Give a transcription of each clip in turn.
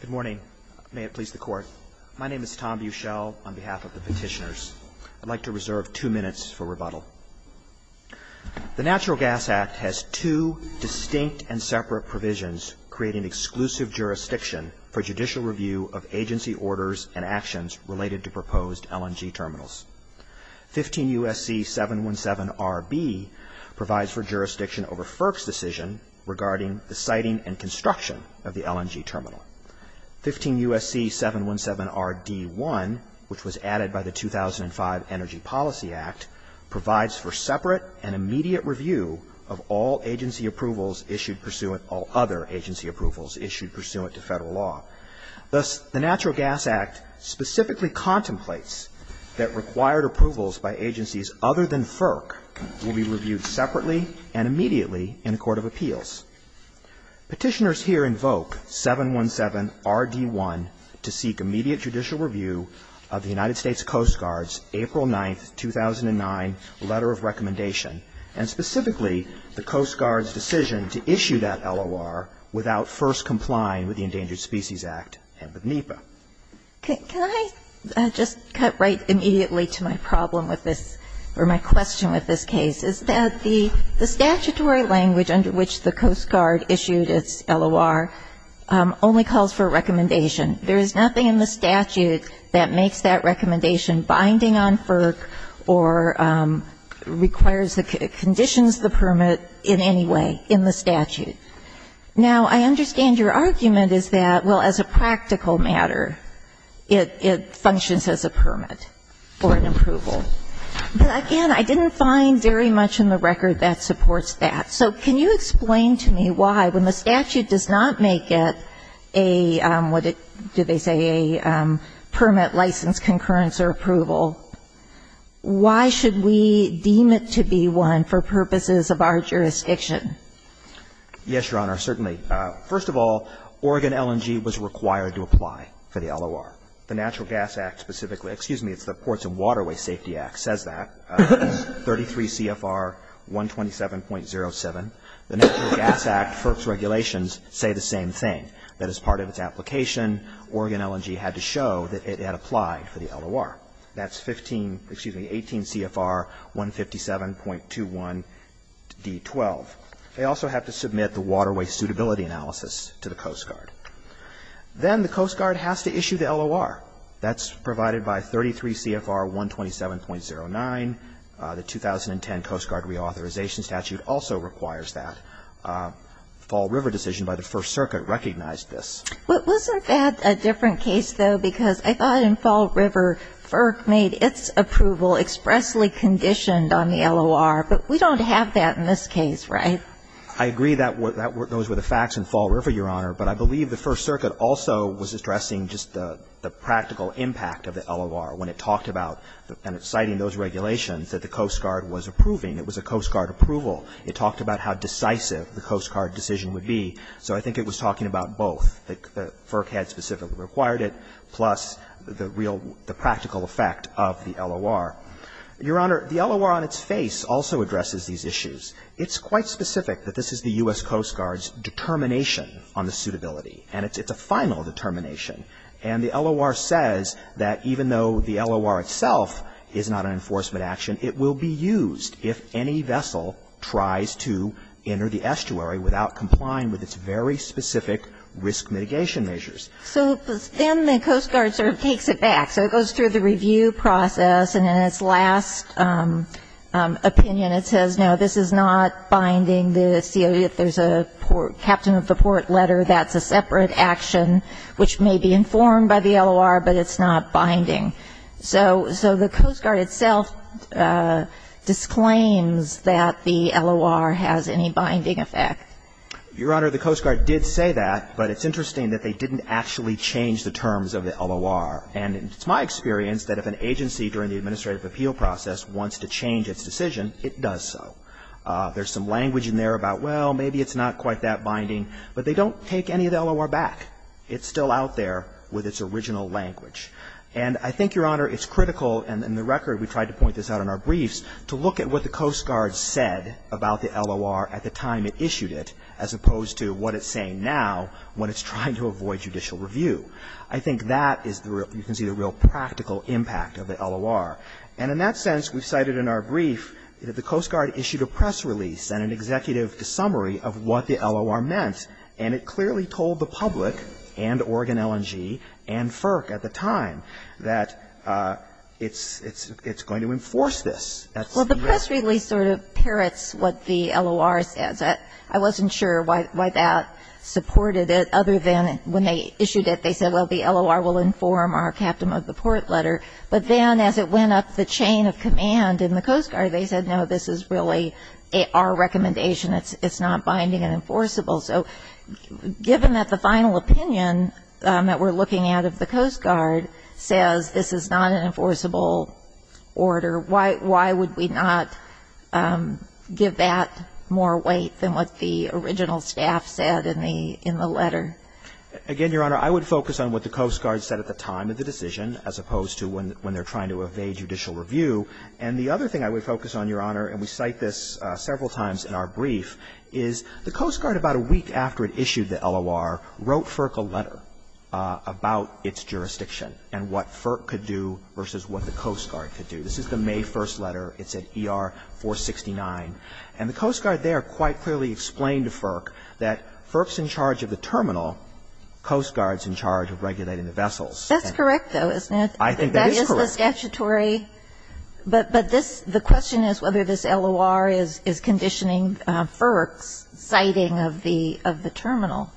Good morning. May it please the Court. My name is Tom Buchel on behalf of the petitioners. I'd like to reserve two minutes for rebuttal. The Natural Gas Act has two distinct and separate provisions creating exclusive jurisdiction for judicial review of agency orders and actions related to proposed LNG terminals. 15 U.S.C. 717RB provides for jurisdiction over FERC's decision regarding the siting and construction of the LNG terminal. 15 U.S.C. 717RD1, which was added by the 2005 Energy Policy Act, provides for separate and immediate review of all agency approvals issued pursuant to federal law. Thus, the Natural Gas Act specifically contemplates that required approvals by agencies other than FERC will be reviewed separately and immediately in a court of appeals. Petitioners here invoke 717RD1 to seek immediate judicial review of the United States Coast Guard's April 9, 2009, letter of recommendation, and specifically the Coast Guard's decision to issue that LOR without first complying with the Endangered Species Act and with NEPA. Can I just cut right immediately to my problem with this or my question with this case? Is that the statutory language under which the Coast Guard issued its LOR only calls for a recommendation? There is nothing in the statute that makes that recommendation binding on FERC or requires or conditions the permit in any way in the statute. Now, I understand your argument is that, well, as a practical matter, it functions as a permit or an approval. But again, I didn't find very much in the record that supports that. So can you explain to me why, when the statute does not make it a, what did they say, a permit, license, concurrence or approval, why should we deem it to be one for purposes of our jurisdiction? Yes, Your Honor, certainly. First of all, Oregon LNG was required to apply for the LOR. The Natural Gas Act specifically excuse me, it's the Ports and Waterways Safety Act says that, 33 CFR 127.07. The Natural Gas Act FERC's regulations say the same thing, that as part of its application, Oregon LNG had to show that it had applied for the LOR. That's 15, excuse me, 18 CFR 157.21d12. They also have to submit the waterway suitability analysis to the Coast Guard. Then the Coast Guard has to issue the LOR. That's provided by 33 CFR 127.09. The 2010 Coast Guard reauthorization statute also requires that. Fall River decision by the First Circuit recognized this. But wasn't that a different case, though, because I thought in Fall River FERC made its approval expressly conditioned on the LOR. But we don't have that in this case, right? I agree that those were the facts in Fall River, Your Honor. But I believe the First Circuit also was addressing just the practical impact of the LOR when it talked about, and it's citing those regulations, that the Coast Guard was approving. It was a Coast Guard approval. It talked about how decisive the Coast Guard decision would be. So I think it was talking about both. FERC had specifically required it, plus the real, the practical effect of the LOR. Your Honor, the LOR on its face also addresses these issues. It's quite specific that this is the U.S. Coast Guard's determination on the suitability. And it's a final determination. And the LOR says that even though the LOR itself is not an enforcement action, it will be used if any vessel tries to enter the estuary without complying with its very specific risk mitigation measures. So then the Coast Guard sort of takes it back. So it goes through the review process. And in its last opinion, it says, no, this is not binding. There's a Captain of the Port letter that's a separate action which may be informed by the LOR, but it's not binding. So the Coast Guard itself disclaims that the LOR has any binding effect. Your Honor, the Coast Guard did say that. But it's interesting that they didn't actually change the terms of the LOR. And it's my experience that if an agency during the administrative appeal process wants to change its decision, it does so. There's some language in there about, well, maybe it's not quite that binding. But they don't take any of the LOR back. It's still out there with its original language. And I think, Your Honor, it's critical, and in the record we tried to point this out in our briefs, to look at what the Coast Guard said about the LOR at the time it issued it as opposed to what it's saying now when it's trying to avoid judicial review. I think that is the real, you can see the real practical impact of the LOR. And in that sense, we cited in our brief that the Coast Guard issued a press release and an executive summary of what the LOR meant. And it clearly told the public and Oregon LNG and FERC at the time that it's going to enforce this. Well, the press release sort of parrots what the LOR says. I wasn't sure why that supported it other than when they issued it, they said, well, the LOR will inform our captain of the port letter. But then as it went up the chain of command in the Coast Guard, they said, no, this is really our recommendation. It's not binding and enforceable. So given that the final opinion that we're looking at of the Coast Guard says this is not an enforceable order, why would we not give that more weight than what the original staff said in the letter? Again, Your Honor, I would focus on what the Coast Guard said at the time of the decision as opposed to when they're trying to evade judicial review. And the other thing I would focus on, Your Honor, and we cite this several times in our brief, is the Coast Guard about a week after it issued the LOR wrote FERC a letter about its jurisdiction and what FERC could do versus what the Coast Guard could do. This is the May 1st letter. It said ER 469. And the Coast Guard there quite clearly explained to FERC that FERC's in charge of the terminal, Coast Guard's in charge of regulating the vessels. That's correct, though, isn't it? I think that is correct. That is the statutory. But this, the question is whether this LOR is conditioning FERC's citing of the terminal.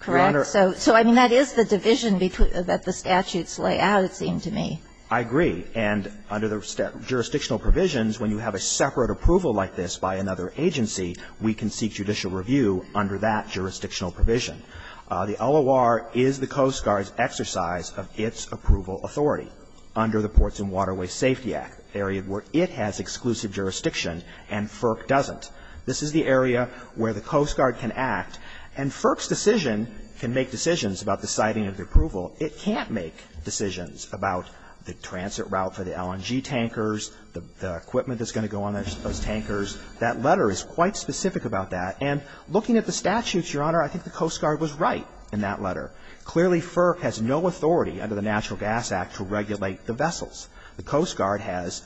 Correct? Your Honor. So, I mean, that is the division that the statutes lay out, it seems to me. I agree. And under the jurisdictional provisions, when you have a separate approval like this by another agency, we can seek judicial review under that jurisdictional provision. The LOR is the Coast Guard's exercise of its approval authority under the Ports and Waterways Safety Act, an area where it has exclusive jurisdiction and FERC doesn't. This is the area where the Coast Guard can act. And FERC's decision can make decisions about the citing of the approval. It can't make decisions about the transit route for the LNG tankers, the equipment that's going to go on those tankers. That letter is quite specific about that. And looking at the statutes, Your Honor, I think the Coast Guard was right in that letter. Clearly, FERC has no authority under the Natural Gas Act to regulate the vessels. The Coast Guard has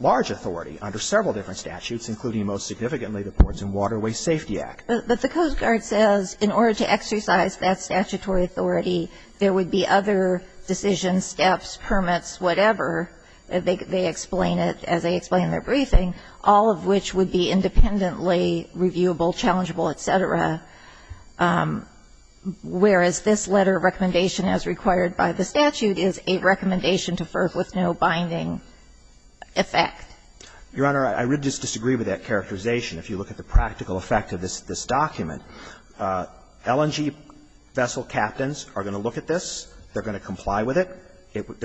large authority under several different statutes, including most significantly the Ports and Waterways Safety Act. But the Coast Guard says in order to exercise that statutory authority, there would be other decisions, steps, permits, whatever, they explain it as they explain their briefing, all of which would be independently reviewable, challengeable, et cetera, whereas this letter of recommendation, as required by the statute, is a recommendation to FERC with no binding effect. Your Honor, I would just disagree with that characterization. If you look at the practical effect of this document, LNG vessel captains are going to look at this. They're going to comply with it.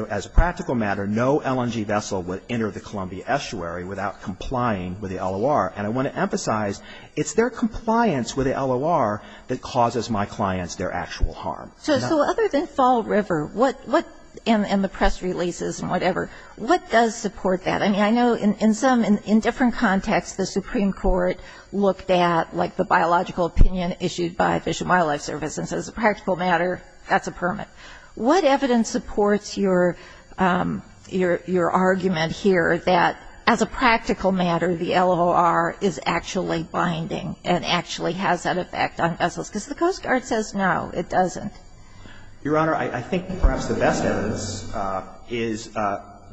As a practical matter, no LNG vessel would enter the Columbia Estuary without complying with the LOR. And I want to emphasize, it's their compliance with the LOR that causes my clients their actual harm. So other than Fall River, what, and the press releases and whatever, what does support that? I mean, I know in some, in different contexts, the Supreme Court looked at like the biological opinion issued by Fish and Wildlife Service and says as a practical matter, that's a permit. What evidence supports your argument here that as a practical matter, the LOR is actually binding and actually has an effect on vessels? Because the Coast Guard says no, it doesn't. Your Honor, I think perhaps the best evidence is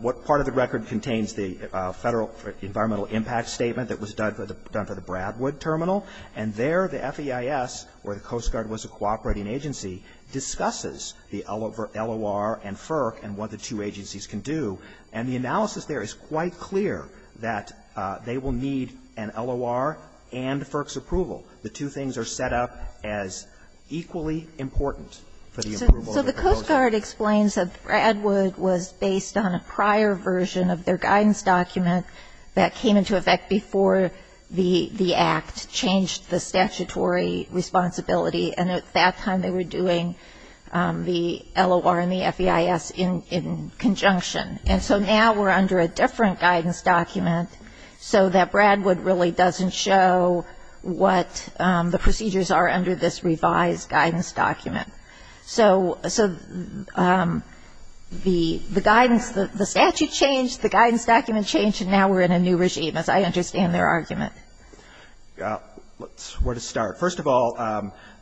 what part of the record contains the Federal Environmental Impact Statement that was done for the Bradwood Terminal, and there the FEIS, where the Coast Guard was a cooperating agency, discusses the LOR and FERC and what the two agencies can do. And the analysis there is quite clear that they will need an LOR and FERC's approval. The two things are set up as equally important for the approval of the proposal. So the Coast Guard explains that Bradwood was based on a prior version of their guidance document that came into effect before the Act changed the statutory responsibility, and at that time they were doing the LOR and the FEIS in conjunction. And so now we're under a different guidance document so that Bradwood really doesn't show what the procedures are under this revised guidance document. So the guidance, the statute changed, the guidance document changed, and now we're in a new regime, as I understand their argument. Where to start? First of all,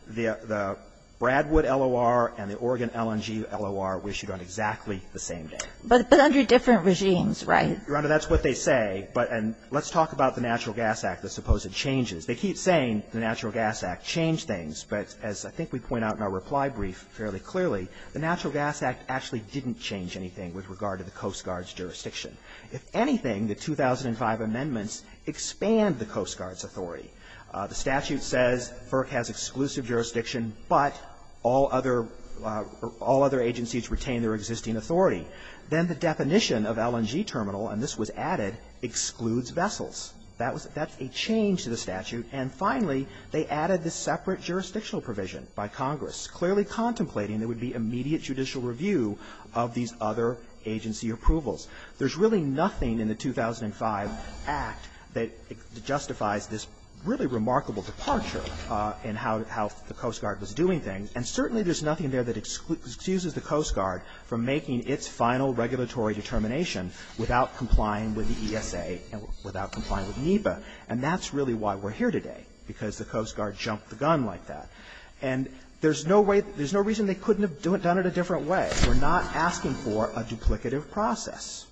the Bradwood LOR and the Oregon LNG LOR were issued on exactly the same day. But under different regimes, right? Your Honor, that's what they say. But let's talk about the Natural Gas Act, the supposed changes. They keep saying the Natural Gas Act changed things, but as I think we point out in our reply brief fairly clearly, the Natural Gas Act actually didn't change anything with regard to the Coast Guard's jurisdiction. If anything, the 2005 amendments expand the Coast Guard's authority. The statute says FERC has exclusive jurisdiction, but all other agencies retain their existing authority. Then the definition of LNG terminal, and this was added, excludes vessels. That's a change to the statute. And finally, they added the separate jurisdictional provision by Congress, clearly contemplating there would be immediate judicial review of these other agency approvals. There's really nothing in the 2005 Act that justifies this really remarkable departure in how the Coast Guard was doing things, and certainly there's nothing there that excuses the Coast Guard from making its final regulatory determination without complying with the ESA and without complying with NEPA. And that's really why we're here today, because the Coast Guard jumped the gun like that. And there's no way, there's no reason they couldn't have done it a different way. We're not asking for a duplicative process.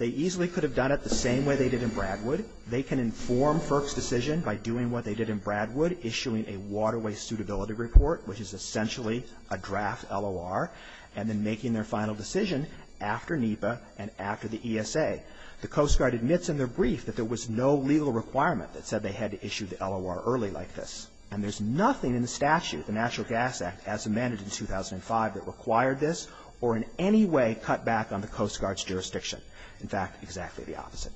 They easily could have done it the same way they did in Bradwood. They can inform FERC's decision by doing what they did in Bradwood, issuing a waterway suitability report, which is essentially a draft LOR, and then making their final decision after NEPA and after the ESA. The Coast Guard admits in their brief that there was no legal requirement that said they had to issue the LOR early like this. And there's nothing in the statute, the National Gas Act, as amended in 2005, that required this or in any way cut back on the Coast Guard's jurisdiction. In fact, exactly the opposite.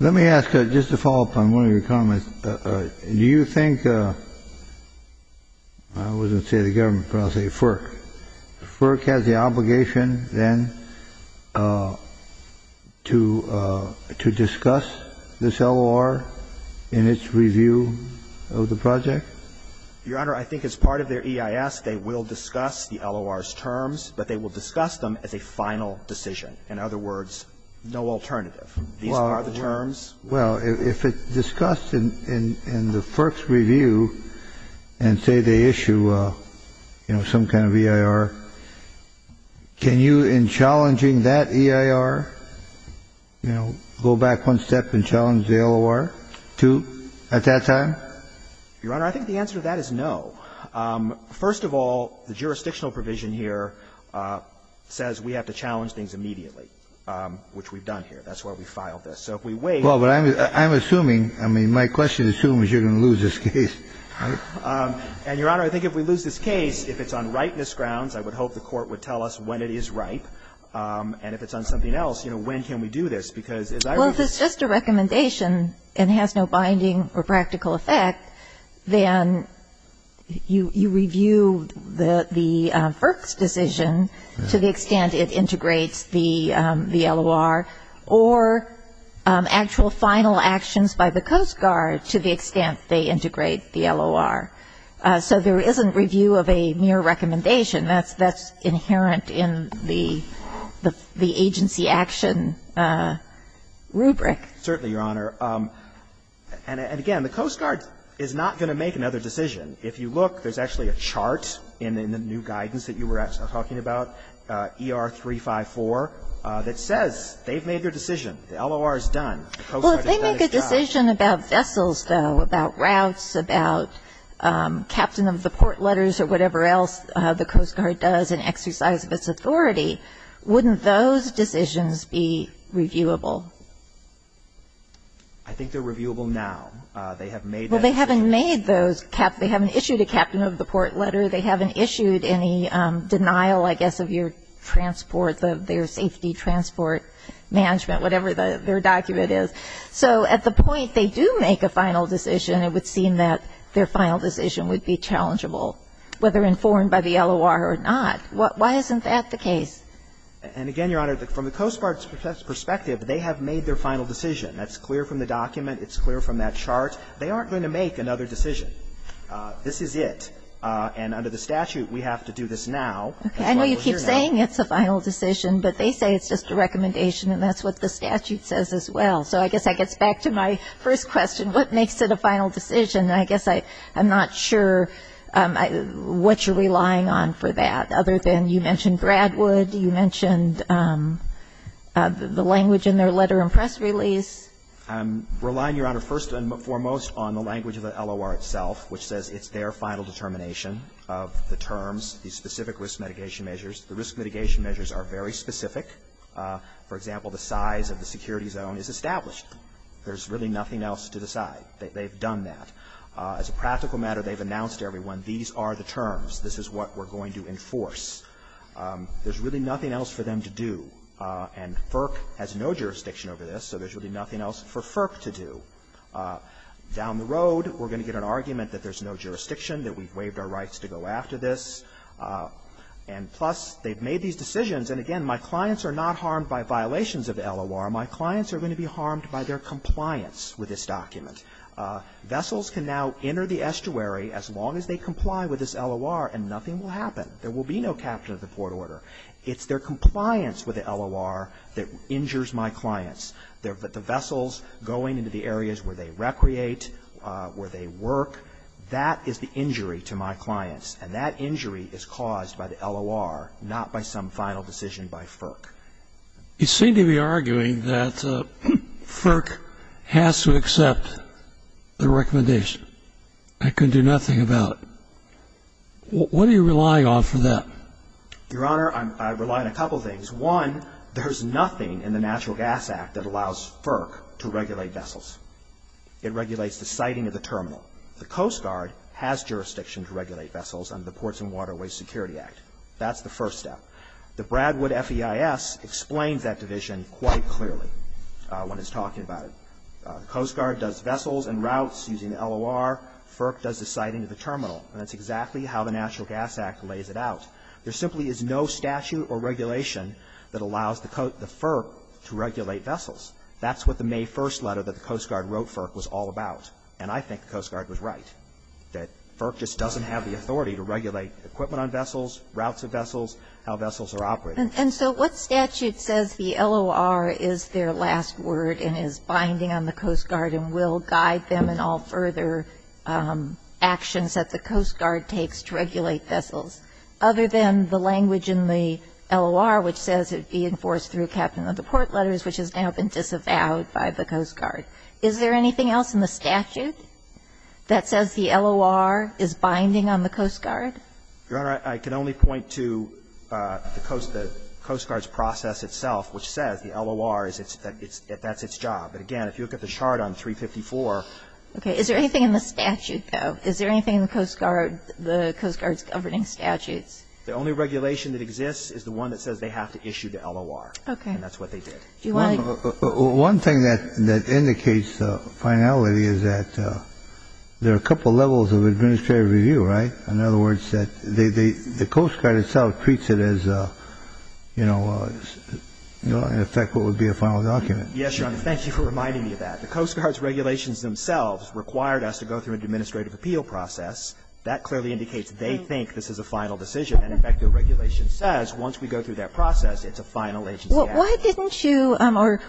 Let me ask, just to follow up on one of your comments, do you think, I wouldn't say the government, but I'll say FERC. FERC has the obligation then to discuss this LOR in its review of the project? Your Honor, I think as part of their EIS, they will discuss the LOR's terms, but they will discuss them as a final decision. In other words, no alternative. These are the terms. Well, if it's discussed in the FERC's review and say they issue, you know, some kind of EIR, can you, in challenging that EIR, you know, go back one step and challenge the LOR, too, at that time? Your Honor, I think the answer to that is no. First of all, the jurisdictional provision here says we have to challenge things immediately, which we've done here. That's why we filed this. So if we wait. Well, but I'm assuming, I mean, my question assumes you're going to lose this case. And, Your Honor, I think if we lose this case, if it's on ripeness grounds, I would hope the Court would tell us when it is ripe. And if it's on something else, you know, when can we do this? Because as I was saying. Well, if it's just a recommendation and has no binding or practical effect, then you review the FERC's decision to the extent it integrates the LOR. Or actual final actions by the Coast Guard to the extent they integrate the LOR. So there isn't review of a mere recommendation. That's inherent in the agency action rubric. Certainly, Your Honor. And again, the Coast Guard is not going to make another decision. If you look, there's actually a chart in the new guidance that you were talking about, ER 354, that says they've made their decision. The LOR is done. The Coast Guard has done its job. Well, if they make a decision about vessels, though, about routes, about captain of the port letters or whatever else the Coast Guard does in exercise of its authority, wouldn't those decisions be reviewable? I think they're reviewable now. They have made that decision. Well, they haven't made those. They haven't issued a captain of the port letter. They haven't issued any denial, I guess, of your transport, their safety transport management, whatever their document is. So at the point they do make a final decision, it would seem that their final decision would be challengeable, whether informed by the LOR or not. Why isn't that the case? And again, Your Honor, from the Coast Guard's perspective, they have made their final decision. That's clear from the document. It's clear from that chart. They aren't going to make another decision. This is it. And under the statute, we have to do this now. That's why we're here now. I know you keep saying it's a final decision, but they say it's just a recommendation and that's what the statute says as well. So I guess that gets back to my first question, what makes it a final decision? And I guess I'm not sure what you're relying on for that. Other than you mentioned Bradwood, you mentioned the language in their letter and press release. I'm relying, Your Honor, first and foremost on the language of the LOR itself, which says it's their final determination of the terms, the specific risk mitigation measures. The risk mitigation measures are very specific. For example, the size of the security zone is established. There's really nothing else to decide. They've done that. As a practical matter, they've announced to everyone, these are the terms, this is what we're going to enforce. There's really nothing else for them to do. And FERC has no jurisdiction over this, so there's really nothing else for FERC to do. Down the road, we're going to get an argument that there's no jurisdiction, that we've waived our rights to go after this. And plus, they've made these decisions. And again, my clients are not harmed by violations of the LOR. My clients are going to be harmed by their compliance with this document. Vessels can now enter the estuary as long as they comply with this LOR and nothing will happen. There will be no capture of the port order. It's their compliance with the LOR that injures my clients. The vessels going into the areas where they recreate, where they work, that is the injury to my clients. And that injury is caused by the LOR, not by some final decision by FERC. You seem to be arguing that FERC has to accept the recommendation. I can do nothing about it. What are you relying on for that? Your Honor, I rely on a couple of things. One, there's nothing in the Natural Gas Act that allows FERC to regulate vessels. It regulates the siting of the terminal. The Coast Guard has jurisdiction to regulate vessels under the Ports and Waterways Security Act. That's the first step. The Bradwood FEIS explains that division quite clearly when it's talking about it. The Coast Guard does vessels and routes using the LOR. FERC does the siting of the terminal. And that's exactly how the Natural Gas Act lays it out. There simply is no statute or regulation that allows the FERC to regulate vessels. That's what the May 1st letter that the Coast Guard wrote FERC was all about. And I think the Coast Guard was right, that FERC just doesn't have the authority to regulate equipment on vessels, routes of vessels, how vessels are operated. And so what statute says the LOR is their last word and is binding on the Coast Guard and will guide them in all further actions that the Coast Guard takes to regulate vessels, other than the language in the LOR which says it be enforced through Captain of the Port Letters, which has now been disavowed by the Coast Guard? Is there anything else in the statute that says the LOR is binding on the Coast Guard? Verrilli, I can only point to the Coast Guard's process itself, which says the LOR is its, that's its job. But, again, if you look at the chart on 354. Okay. Is there anything in the statute, though? Is there anything in the Coast Guard, the Coast Guard's governing statutes? The only regulation that exists is the one that says they have to issue to LOR. Okay. And that's what they did. Do you want to? One thing that indicates finality is that there are a couple levels of administrative review, right? In other words, that the Coast Guard itself treats it as, you know, in effect what And so, in effect, that would be a final document. Yes, Your Honor. Thank you for reminding me of that. The Coast Guard's regulations themselves required us to go through an administrative appeal process. That clearly indicates they think this is a final decision. And, in fact, the regulation says once we go through that process, it's a final agency action. Why didn't you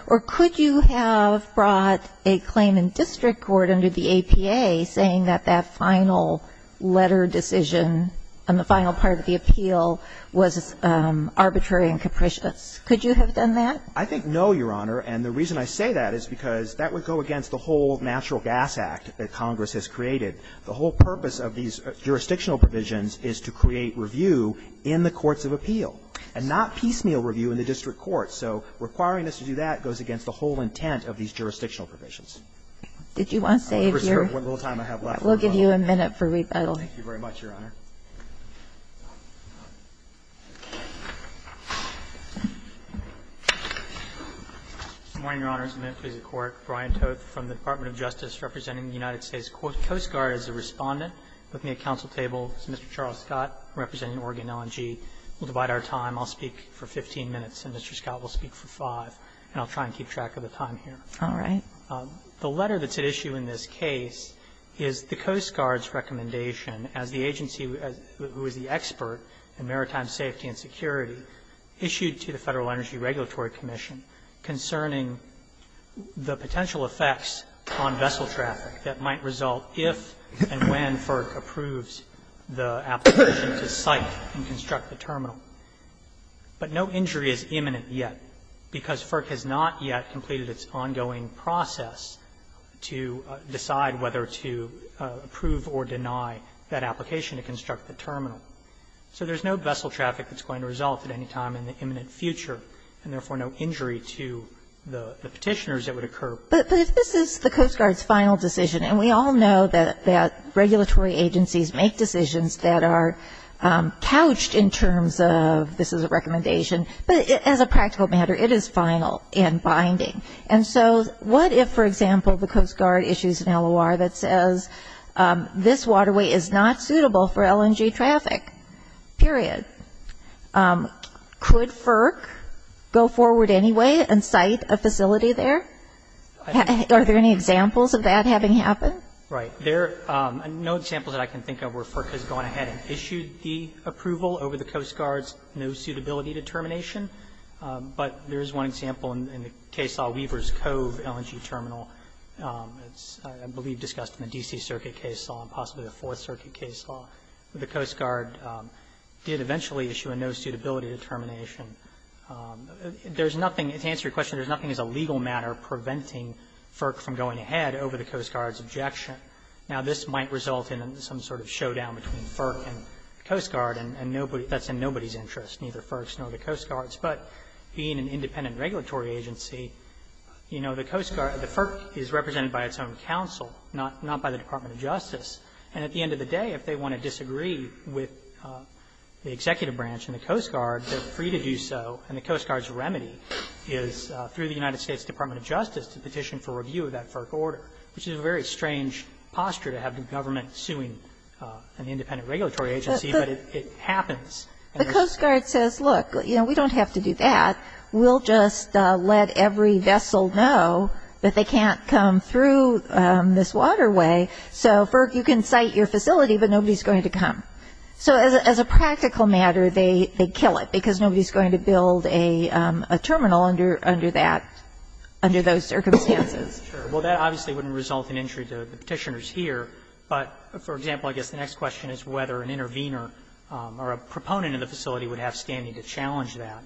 or could you have brought a claim in district court under the APA saying that that final letter decision and the final part of the appeal was arbitrary and capricious? Could you have done that? I think no, Your Honor. And the reason I say that is because that would go against the whole Natural Gas Act that Congress has created. The whole purpose of these jurisdictional provisions is to create review in the courts of appeal and not piecemeal review in the district court. So requiring us to do that goes against the whole intent of these jurisdictional provisions. Did you want to say if you're We'll give you a minute for rebuttal. Thank you very much, Your Honor. Good morning, Your Honor. It's a minute to the court. Brian Toth from the Department of Justice representing the United States Coast Guard is the Respondent looking at counsel table. This is Mr. Charles Scott representing Oregon L&G. We'll divide our time. I'll speak for 15 minutes, and Mr. Scott will speak for 5, and I'll try and keep track of the time here. All right. The letter that's at issue in this case is the Coast Guard's recommendation as the agency who is the expert in maritime safety and security issued to the Federal Energy Regulatory Commission concerning the potential effects on vessel traffic that might result if and when FERC approves the application to site and construct the terminal. But no injury is imminent yet, because FERC has not yet completed its ongoing process to decide whether to approve or deny that application to construct the terminal. So there's no vessel traffic that's going to result at any time in the imminent future, and therefore no injury to the Petitioners that would occur. But this is the Coast Guard's final decision, and we all know that regulatory agencies make decisions that are couched in terms of this is a recommendation, but as a practical matter, it is final and binding. And so what if, for example, the Coast Guard issues an LOR that says this waterway is not suitable for LNG traffic, period? Could FERC go forward anyway and site a facility there? Are there any examples of that having happened? Right. There are no examples that I can think of where FERC has gone ahead and issued the approval over the Coast Guard's no suitability determination. But there is one example in the Case Law, Weaver's Cove LNG terminal. It's, I believe, discussed in the D.C. Circuit Case Law and possibly the Fourth Circuit Case Law. The Coast Guard did eventually issue a no suitability determination. There's nothing, to answer your question, there's nothing as a legal matter preventing FERC from going ahead over the Coast Guard's objection. Now, this might result in some sort of showdown between FERC and the Coast Guard, and nobody, that's in nobody's interest, neither FERC's nor the Coast Guard's. But being an independent regulatory agency, you know, the Coast Guard, the FERC is represented by its own counsel, not by the Department of Justice. And at the end of the day, if they want to disagree with the executive branch and the Coast Guard, they're free to do so, and the Coast Guard's remedy is through the United States Department of Justice to petition for review of that FERC order, which is a very The Coast Guard says, look, you know, we don't have to do that. We'll just let every vessel know that they can't come through this waterway, so FERC, you can site your facility, but nobody's going to come. So as a practical matter, they kill it, because nobody's going to build a terminal under that, under those circumstances. Well, that obviously wouldn't result in injury to the Petitioners here. But, for example, I guess the next question is whether an intervener or a proponent in the facility would have standing to challenge that.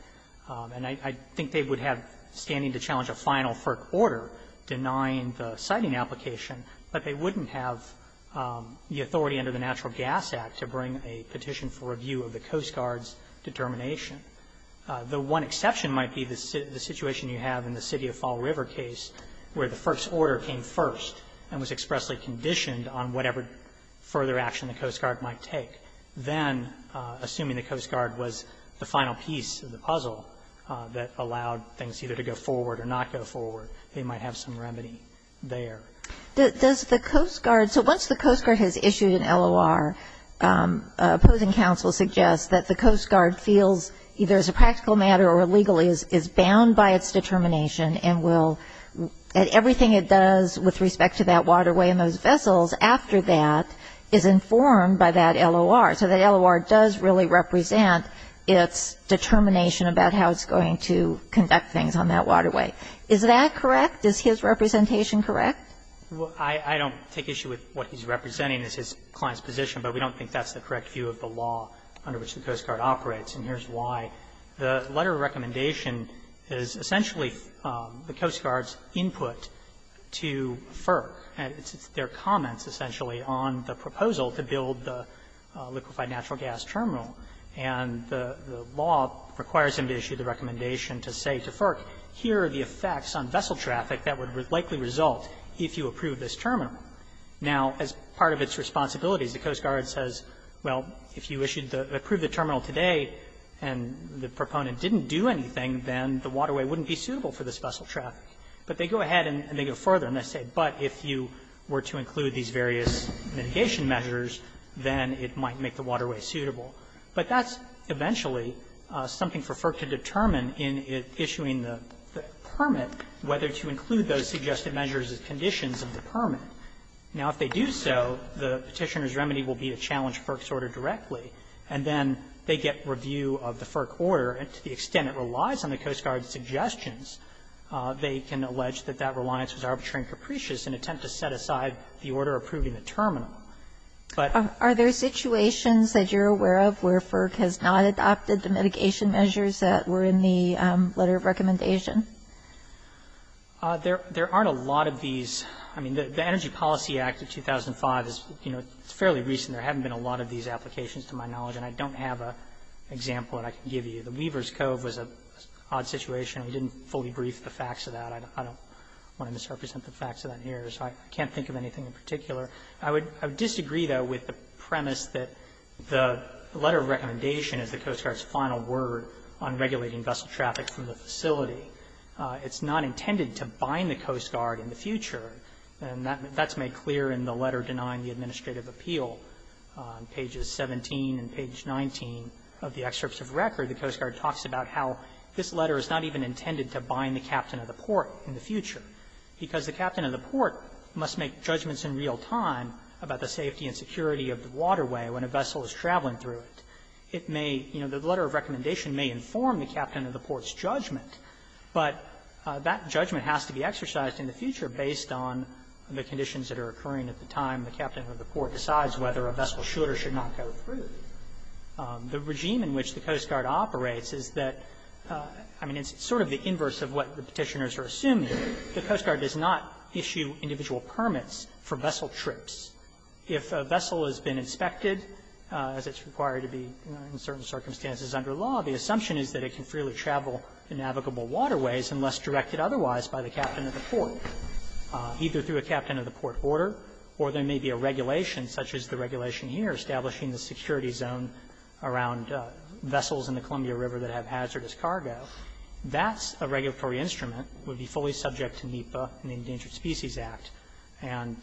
And I think they would have standing to challenge a final FERC order denying the siting application, but they wouldn't have the authority under the Natural Gas Act to bring a petition for review of the Coast Guard's determination. The one exception might be the situation you have in the City of Fall River case, where the FERC's order came first and was expressly conditioned on whatever further action the Coast Guard might take. Then, assuming the Coast Guard was the final piece of the puzzle that allowed things either to go forward or not go forward, they might have some remedy there. Does the Coast Guard – so once the Coast Guard has issued an LOR, opposing counsel suggests that the Coast Guard feels either as a practical matter or a legal matter, that the Coast Guard is bound by its determination and will – everything it does with respect to that waterway and those vessels after that is informed by that LOR. So the LOR does really represent its determination about how it's going to conduct things on that waterway. Is that correct? Is his representation correct? Well, I don't take issue with what he's representing as his client's position, but we don't think that's the correct view of the law under which the Coast Guard operates, and here's why. The letter of recommendation is essentially the Coast Guard's input to FERC, and it's their comments essentially on the proposal to build the liquefied natural gas terminal. And the law requires him to issue the recommendation to say to FERC, here are the effects on vessel traffic that would likely result if you approve this terminal. Now, as part of its responsibilities, the Coast Guard says, well, if you issued the – approved the terminal today and the proponent didn't do anything, then the waterway wouldn't be suitable for this vessel traffic. But they go ahead and they go further, and they say, but if you were to include these various mitigation measures, then it might make the waterway suitable. But that's eventually something for FERC to determine in issuing the permit, whether to include those suggested measures as conditions of the permit. Now, if they do so, the Petitioner's remedy will be to challenge FERC's order directly and then they get review of the FERC order. And to the extent it relies on the Coast Guard's suggestions, they can allege that that reliance was arbitrary and capricious in an attempt to set aside the order approving the terminal. But – Kagan. Are there situations that you're aware of where FERC has not adopted the mitigation measures that were in the letter of recommendation? Feigin. There aren't a lot of these. I mean, the Energy Policy Act of 2005 is, you know, fairly recent. There haven't been a lot of these applications to my knowledge. And I don't have an example that I can give you. The Weaver's Cove was an odd situation. We didn't fully brief the facts of that. I don't want to misrepresent the facts of that here. So I can't think of anything in particular. I would disagree, though, with the premise that the letter of recommendation is the Coast Guard's final word on regulating vessel traffic from the facility. It's not intended to bind the Coast Guard in the future. And that's made clear in the letter denying the administrative appeal. On pages 17 and page 19 of the excerpts of record, the Coast Guard talks about how this letter is not even intended to bind the captain of the port in the future because the captain of the port must make judgments in real time about the safety and security of the waterway when a vessel is traveling through it. It may – you know, the letter of recommendation may inform the captain of the port's judgment has to be exercised in the future based on the conditions that are occurring at the time the captain of the port decides whether a vessel should or should not go through. The regime in which the Coast Guard operates is that, I mean, it's sort of the inverse of what the Petitioners are assuming. The Coast Guard does not issue individual permits for vessel trips. If a vessel has been inspected, as it's required to be in certain circumstances under law, the assumption is that it can freely travel in navigable waterways unless directed otherwise by the captain of the port, either through a captain of the port order or there may be a regulation such as the regulation here establishing the security zone around vessels in the Columbia River that have hazardous cargo. That's a regulatory instrument, would be fully subject to NEPA and the Endangered Species Act, and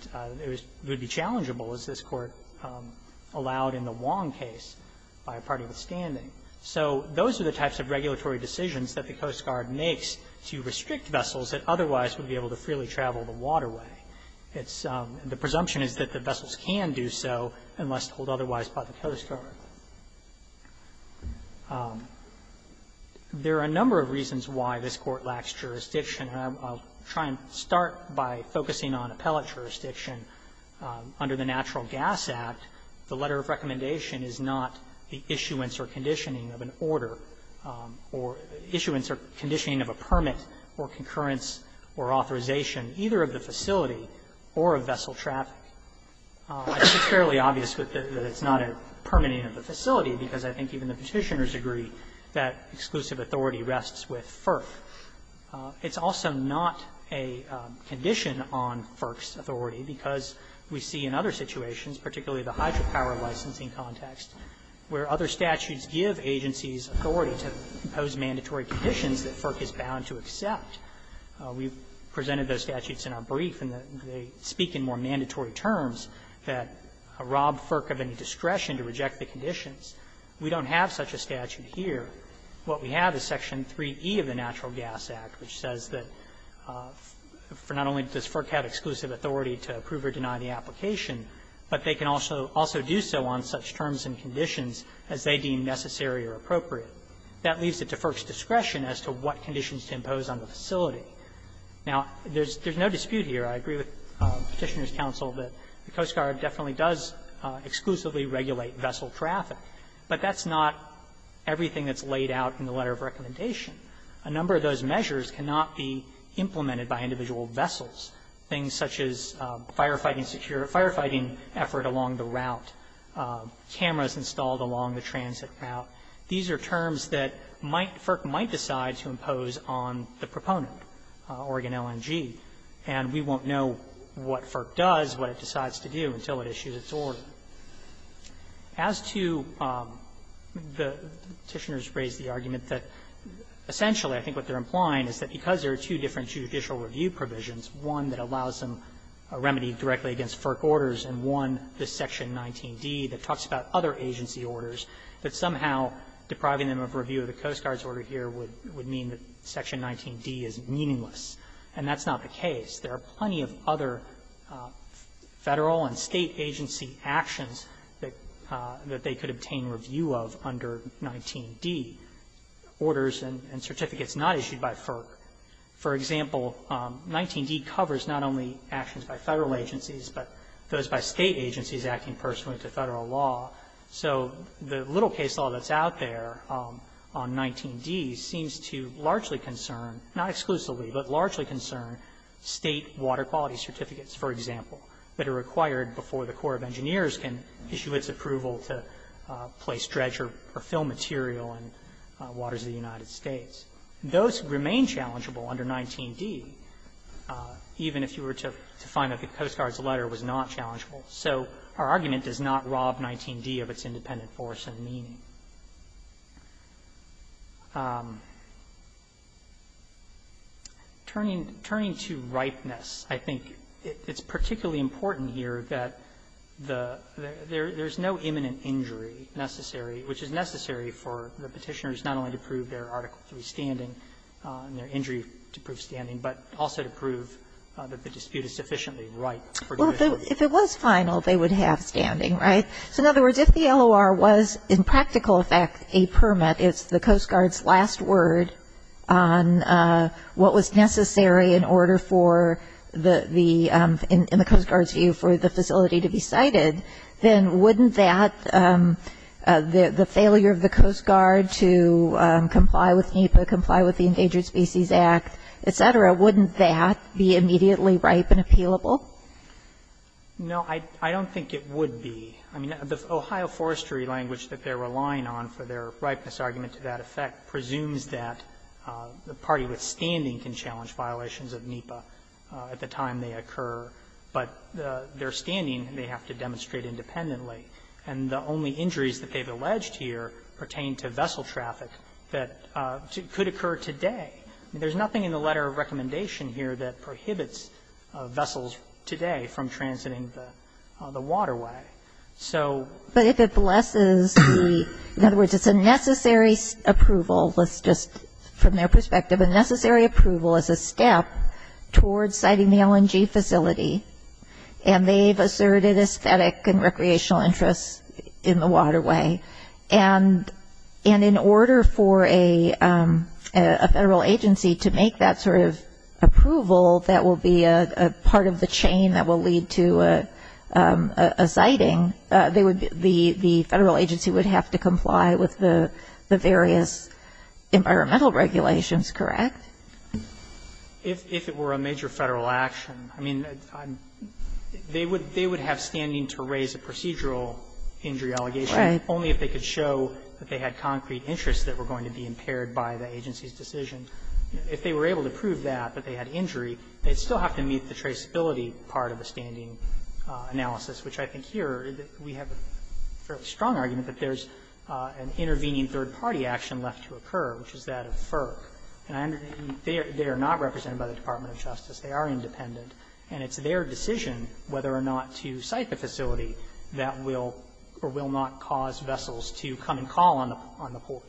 it would be challengeable, as this Court allowed in the Wong case, by a party withstanding. So those are the types of regulatory decisions that the Coast Guard makes to restrict vessels that otherwise would be able to freely travel the waterway. It's the presumption is that the vessels can do so unless told otherwise by the Coast Guard. There are a number of reasons why this Court lacks jurisdiction. I'll try and start by focusing on appellate jurisdiction. Under the Natural Gas Act, the letter of recommendation is not the issuance or condition of an order or issuance or conditioning of a permit or concurrence or authorization either of the facility or of vessel traffic. It's fairly obvious that it's not a permitting of the facility, because I think even the Petitioners agree that exclusive authority rests with FERC. It's also not a condition on FERC's authority, because we see in other situations, particularly the hydropower licensing context, where other statutes give agencies authority to impose mandatory conditions that FERC is bound to accept. We've presented those statutes in our brief, and they speak in more mandatory terms that rob FERC of any discretion to reject the conditions. We don't have such a statute here. What we have is Section 3e of the Natural Gas Act, which says that for not only does FERC have exclusive authority to approve or deny the application, but they can also do so on such terms and conditions as they deem necessary or appropriate. That leaves it to FERC's discretion as to what conditions to impose on the facility. Now, there's no dispute here. I agree with Petitioners' counsel that the Coast Guard definitely does exclusively regulate vessel traffic, but that's not everything that's laid out in the letter of recommendation. A number of those measures cannot be implemented by individual vessels, things such as firefighting effort along the route, cameras installed along the transit route. These are terms that might FERC might decide to impose on the proponent, Oregon LNG, and we won't know what FERC does, what it decides to do, until it issues its order. Essentially, I think what they're implying is that because there are two different judicial review provisions, one that allows them a remedy directly against FERC orders and one, the Section 19d, that talks about other agency orders, that somehow depriving them of review of the Coast Guard's order here would mean that Section 19d is meaningless. And that's not the case. There are plenty of other Federal and State agency actions that they could obtain review of under 19d, orders and certificates not issued by FERC. For example, 19d covers not only actions by Federal agencies, but those by State agencies acting pursuant to Federal law. So the little case law that's out there on 19d seems to largely concern, not exclusively, but largely concern State water quality certificates, for example, that are required before the Corps of Engineers can issue its approval to place dredge or fill material in waters of the United States. Those remain challengeable under 19d, even if you were to find that the Coast Guard's letter was not challengeable. So our argument does not rob 19d of its independent force and meaning. Turning to ripeness, I think it's particularly important here that, you know, we have to make sure that there's no imminent injury necessary, which is necessary for the Petitioners not only to prove their Article III standing and their injury to prove standing, but also to prove that the dispute is sufficiently right for judicial review. Well, if it was final, they would have standing, right? So in other words, if the LOR was in practical effect a permit, it's the Coast Guard's last word on what was necessary in order for the, in the Coast Guard's view, for the facility to be sited, then wouldn't that, the failure of the Coast Guard to comply with NEPA, comply with the Endangered Species Act, et cetera, wouldn't that be immediately ripe and appealable? No, I don't think it would be. I mean, the Ohio forestry language that they're relying on for their ripeness argument to that effect presumes that the party with standing can challenge violations of NEPA at the time they occur, but their standing, they have to demonstrate independently. And the only injuries that they've alleged here pertain to vessel traffic that could occur today. I mean, there's nothing in the letter of recommendation here that prohibits So they're not going to be able to do that. So, necessary approval, let's just, from their perspective, a necessary approval is a step towards siting the LNG facility, and they've asserted aesthetic and recreational interests in the waterway. And in order for a federal agency to make that sort of approval, that will be a part of the chain that will lead to a siting, the federal agency would have to comply with the various environmental regulations, correct? If it were a major federal action, I mean, they would have standing to raise a procedural injury allegation only if they could show that they had concrete interests that were going to be impaired by the agency's decision. If they were able to prove that, that they had injury, they'd still have to meet the traceability part of the standing analysis, which I think here, we have a fairly strong argument that there's an intervening third-party action left to occur, which is that of FERC. And they are not represented by the Department of Justice. They are independent. And it's their decision whether or not to site the facility that will or will not cause vessels to come and call on the port,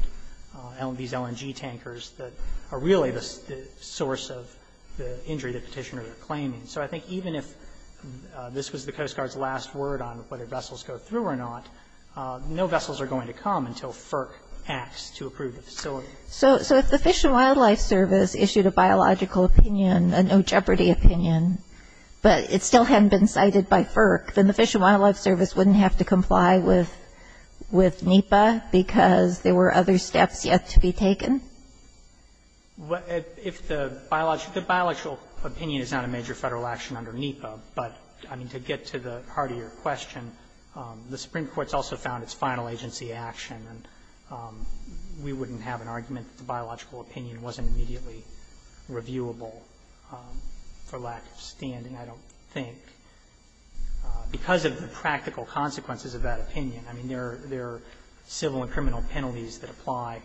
these LNG tankers that are really the source of the injury the Petitioner is claiming. So I think even if this was the Coast Guard's last word on whether vessels go through or not, no vessels are going to come until FERC acts to approve the facility. So if the Fish and Wildlife Service issued a biological opinion, a no-jeopardy opinion, but it still hadn't been cited by FERC, then the Fish and Wildlife Service wouldn't have to comply with NEPA because there were other steps yet to be taken? If the biological opinion is not a major federal action under NEPA, but, I mean, to get to the heart of your question, the Supreme Court's also found it's final agency action, and we wouldn't have an argument that the biological opinion wasn't immediately reviewable for lack of standing, I don't think, because of the practical consequences of that opinion. I mean, there are civil and criminal penalties that apply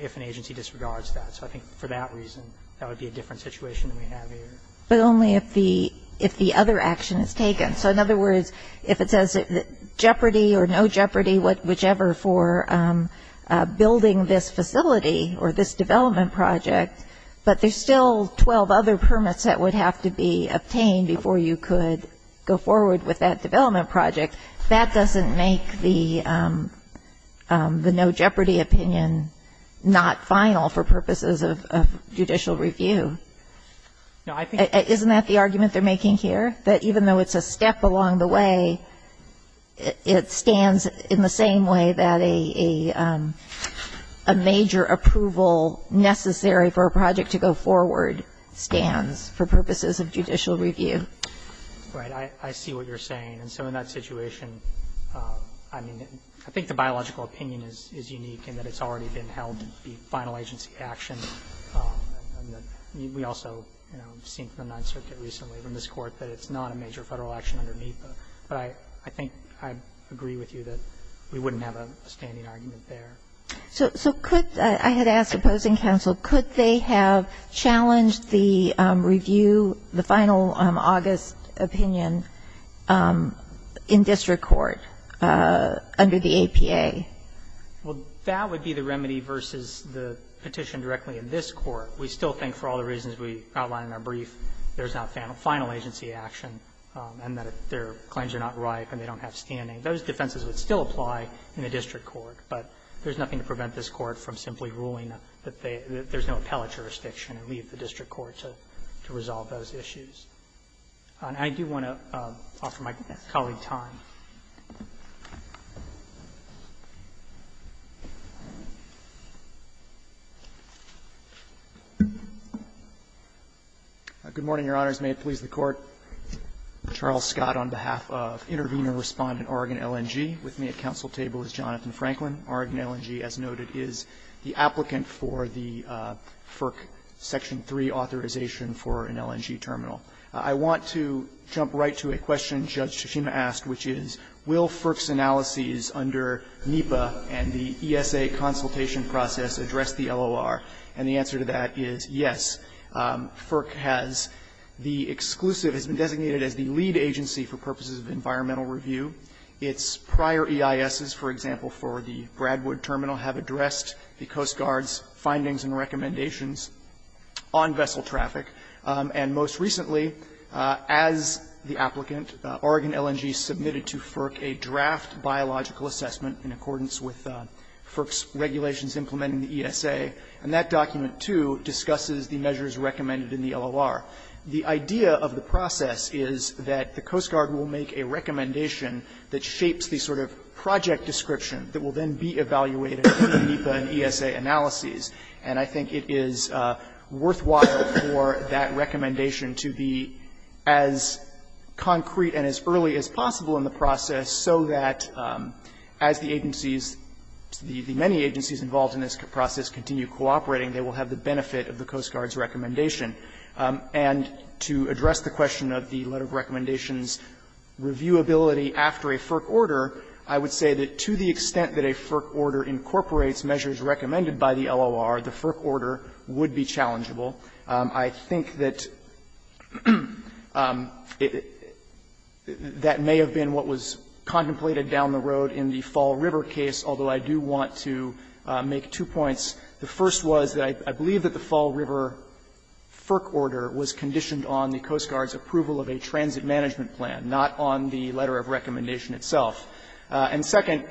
if an agency disregards that. So I think for that reason, that would be a different situation than we have here. But only if the other action is taken. So in other words, if it says jeopardy or no jeopardy, whichever, for building this facility or this development project, but there's still 12 other permits that would have to be obtained before you could go forward with that development project, that doesn't make the no-jeopardy opinion not final for purposes of judicial review. Isn't that the argument they're making here, that even though it's a step along the way, it stands in the same way that a major approval necessary for a project to go forward stands for purposes of judicial review? Right. I see what you're saying. And so in that situation, I mean, I think the biological opinion is unique in that it's already been held to be final agency action. We also have seen from the Ninth Circuit recently, from this Court, that it's not a major Federal action underneath. But I think I agree with you that we wouldn't have a standing argument there. So could the – I had asked opposing counsel, could they have challenged the review, the final August opinion in district court under the APA? Well, that would be the remedy versus the petition directly in this Court. We still think, for all the reasons we outlined in our brief, there's not final agency action, and that their claims are not ripe and they don't have standing. Those defenses would still apply in the district court, but there's nothing to prevent this Court from simply ruling that they – that there's no appellate jurisdiction and leave the district court to resolve those issues. I do want to offer my colleague time. Good morning, Your Honors. May it please the Court. Charles Scott on behalf of Intervenor Respondent Oregon LNG. With me at counsel table is Jonathan Franklin. Oregon LNG, as noted, is the applicant for the FERC Section 3 authorization for an LNG terminal. I want to jump right to a question Judge Tsushima asked, which is, will FERC's analyses under NEPA and the ESA consultation process address the LOR? And the answer to that is yes. FERC has the exclusive – has been designated as the lead agency for purposes of environmental review. Its prior EISs, for example, for the Bradwood Terminal have addressed the Coast Guard's findings and recommendations on vessel traffic. And most recently, as the applicant, Oregon LNG submitted to FERC a draft biological assessment in accordance with FERC's regulations implementing the ESA. And that document, too, discusses the measures recommended in the LOR. The idea of the process is that the Coast Guard will make a recommendation that shapes the sort of project description that will then be evaluated in NEPA and ESA analyses. And I think it is worthwhile for that recommendation to be as concrete and as early as possible in the process so that as the agencies, the many agencies involved in this process continue cooperating, they will have the benefit of the Coast Guard's recommendation. And to address the question of the letter of recommendation's reviewability after a FERC order, I would say that to the extent that a FERC order incorporates measures recommended by the LOR, the FERC order would be challengeable. I think that that may have been what was contemplated down the road in the Fall River case, although I do want to make two points. The first was that I believe that the Fall River FERC order was conditioned on the Coast Guard's approval of a transit management plan, not on the letter of recommendation itself. And second,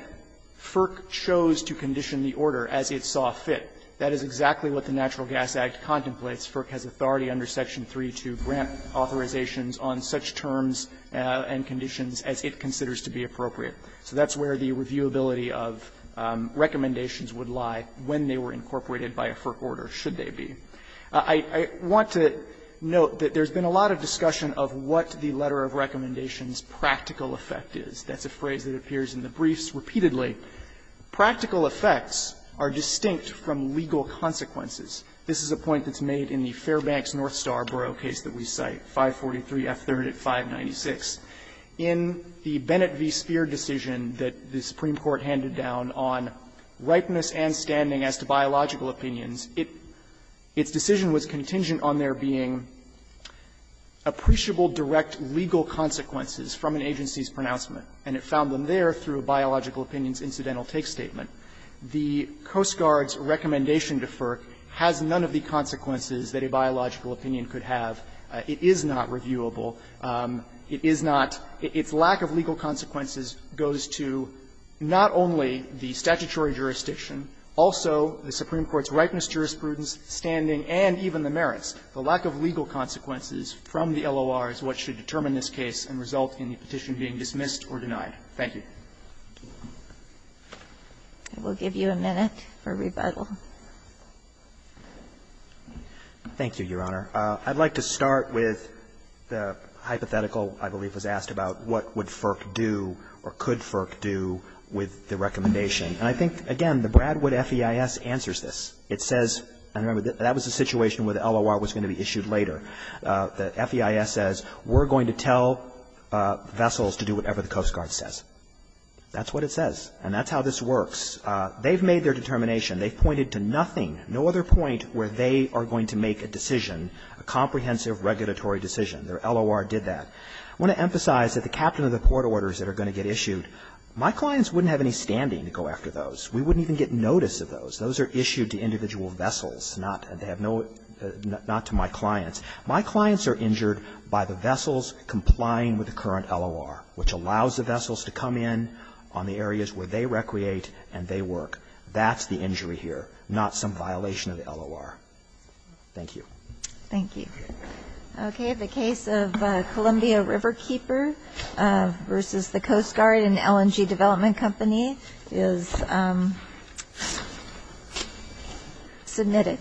FERC chose to condition the order as it saw fit. That is exactly what the Natural Gas Act contemplates. FERC has authority under Section 3 to grant authorizations on such terms and conditions as it considers to be appropriate. So that's where the reviewability of recommendations would lie when they were incorporated by a FERC order, should they be. I want to note that there's been a lot of discussion of what the letter of recommendation's practical effect is. That's a phrase that appears in the briefs repeatedly. Practical effects are distinct from legal consequences. This is a point that's made in the Fairbanks-Northstar Borough case that we cite, 543 F. 3rd at 596. In the Bennett v. Speer decision that the Supreme Court handed down on ripeness and standing as to biological opinions, it — its decision was contingent on there being appreciable direct legal consequences from an agency's pronouncement. And it found them there through a biological opinions incidental take statement. The Coast Guard's recommendation to FERC has none of the consequences that a biological opinion could have. It is not reviewable. It is not — its lack of legal consequences goes to not only the statutory jurisdiction, also the Supreme Court's ripeness, jurisprudence, standing, and even the merits. The lack of legal consequences from the LOR is what should determine this case and should not result in the petition being dismissed or denied. Thank you. I will give you a minute for rebuttal. Thank you, Your Honor. I'd like to start with the hypothetical, I believe, was asked about what would FERC do or could FERC do with the recommendation. And I think, again, the Bradwood FEIS answers this. It says — I remember that was the situation where the LOR was going to be issued later. The FEIS says, we're going to tell vessels to do whatever the Coast Guard says. That's what it says. And that's how this works. They've made their determination. They've pointed to nothing, no other point where they are going to make a decision, a comprehensive regulatory decision. Their LOR did that. I want to emphasize that the captain of the port orders that are going to get issued, my clients wouldn't have any standing to go after those. We wouldn't even get notice of those. Those are issued to individual vessels, not — they have no — not to my clients. My clients are injured by the vessels complying with the current LOR, which allows the vessels to come in on the areas where they recreate and they work. That's the injury here, not some violation of the LOR. Thank you. Thank you. Okay. The case of Columbia Riverkeeper versus the Coast Guard and LNG Development Company is submitted.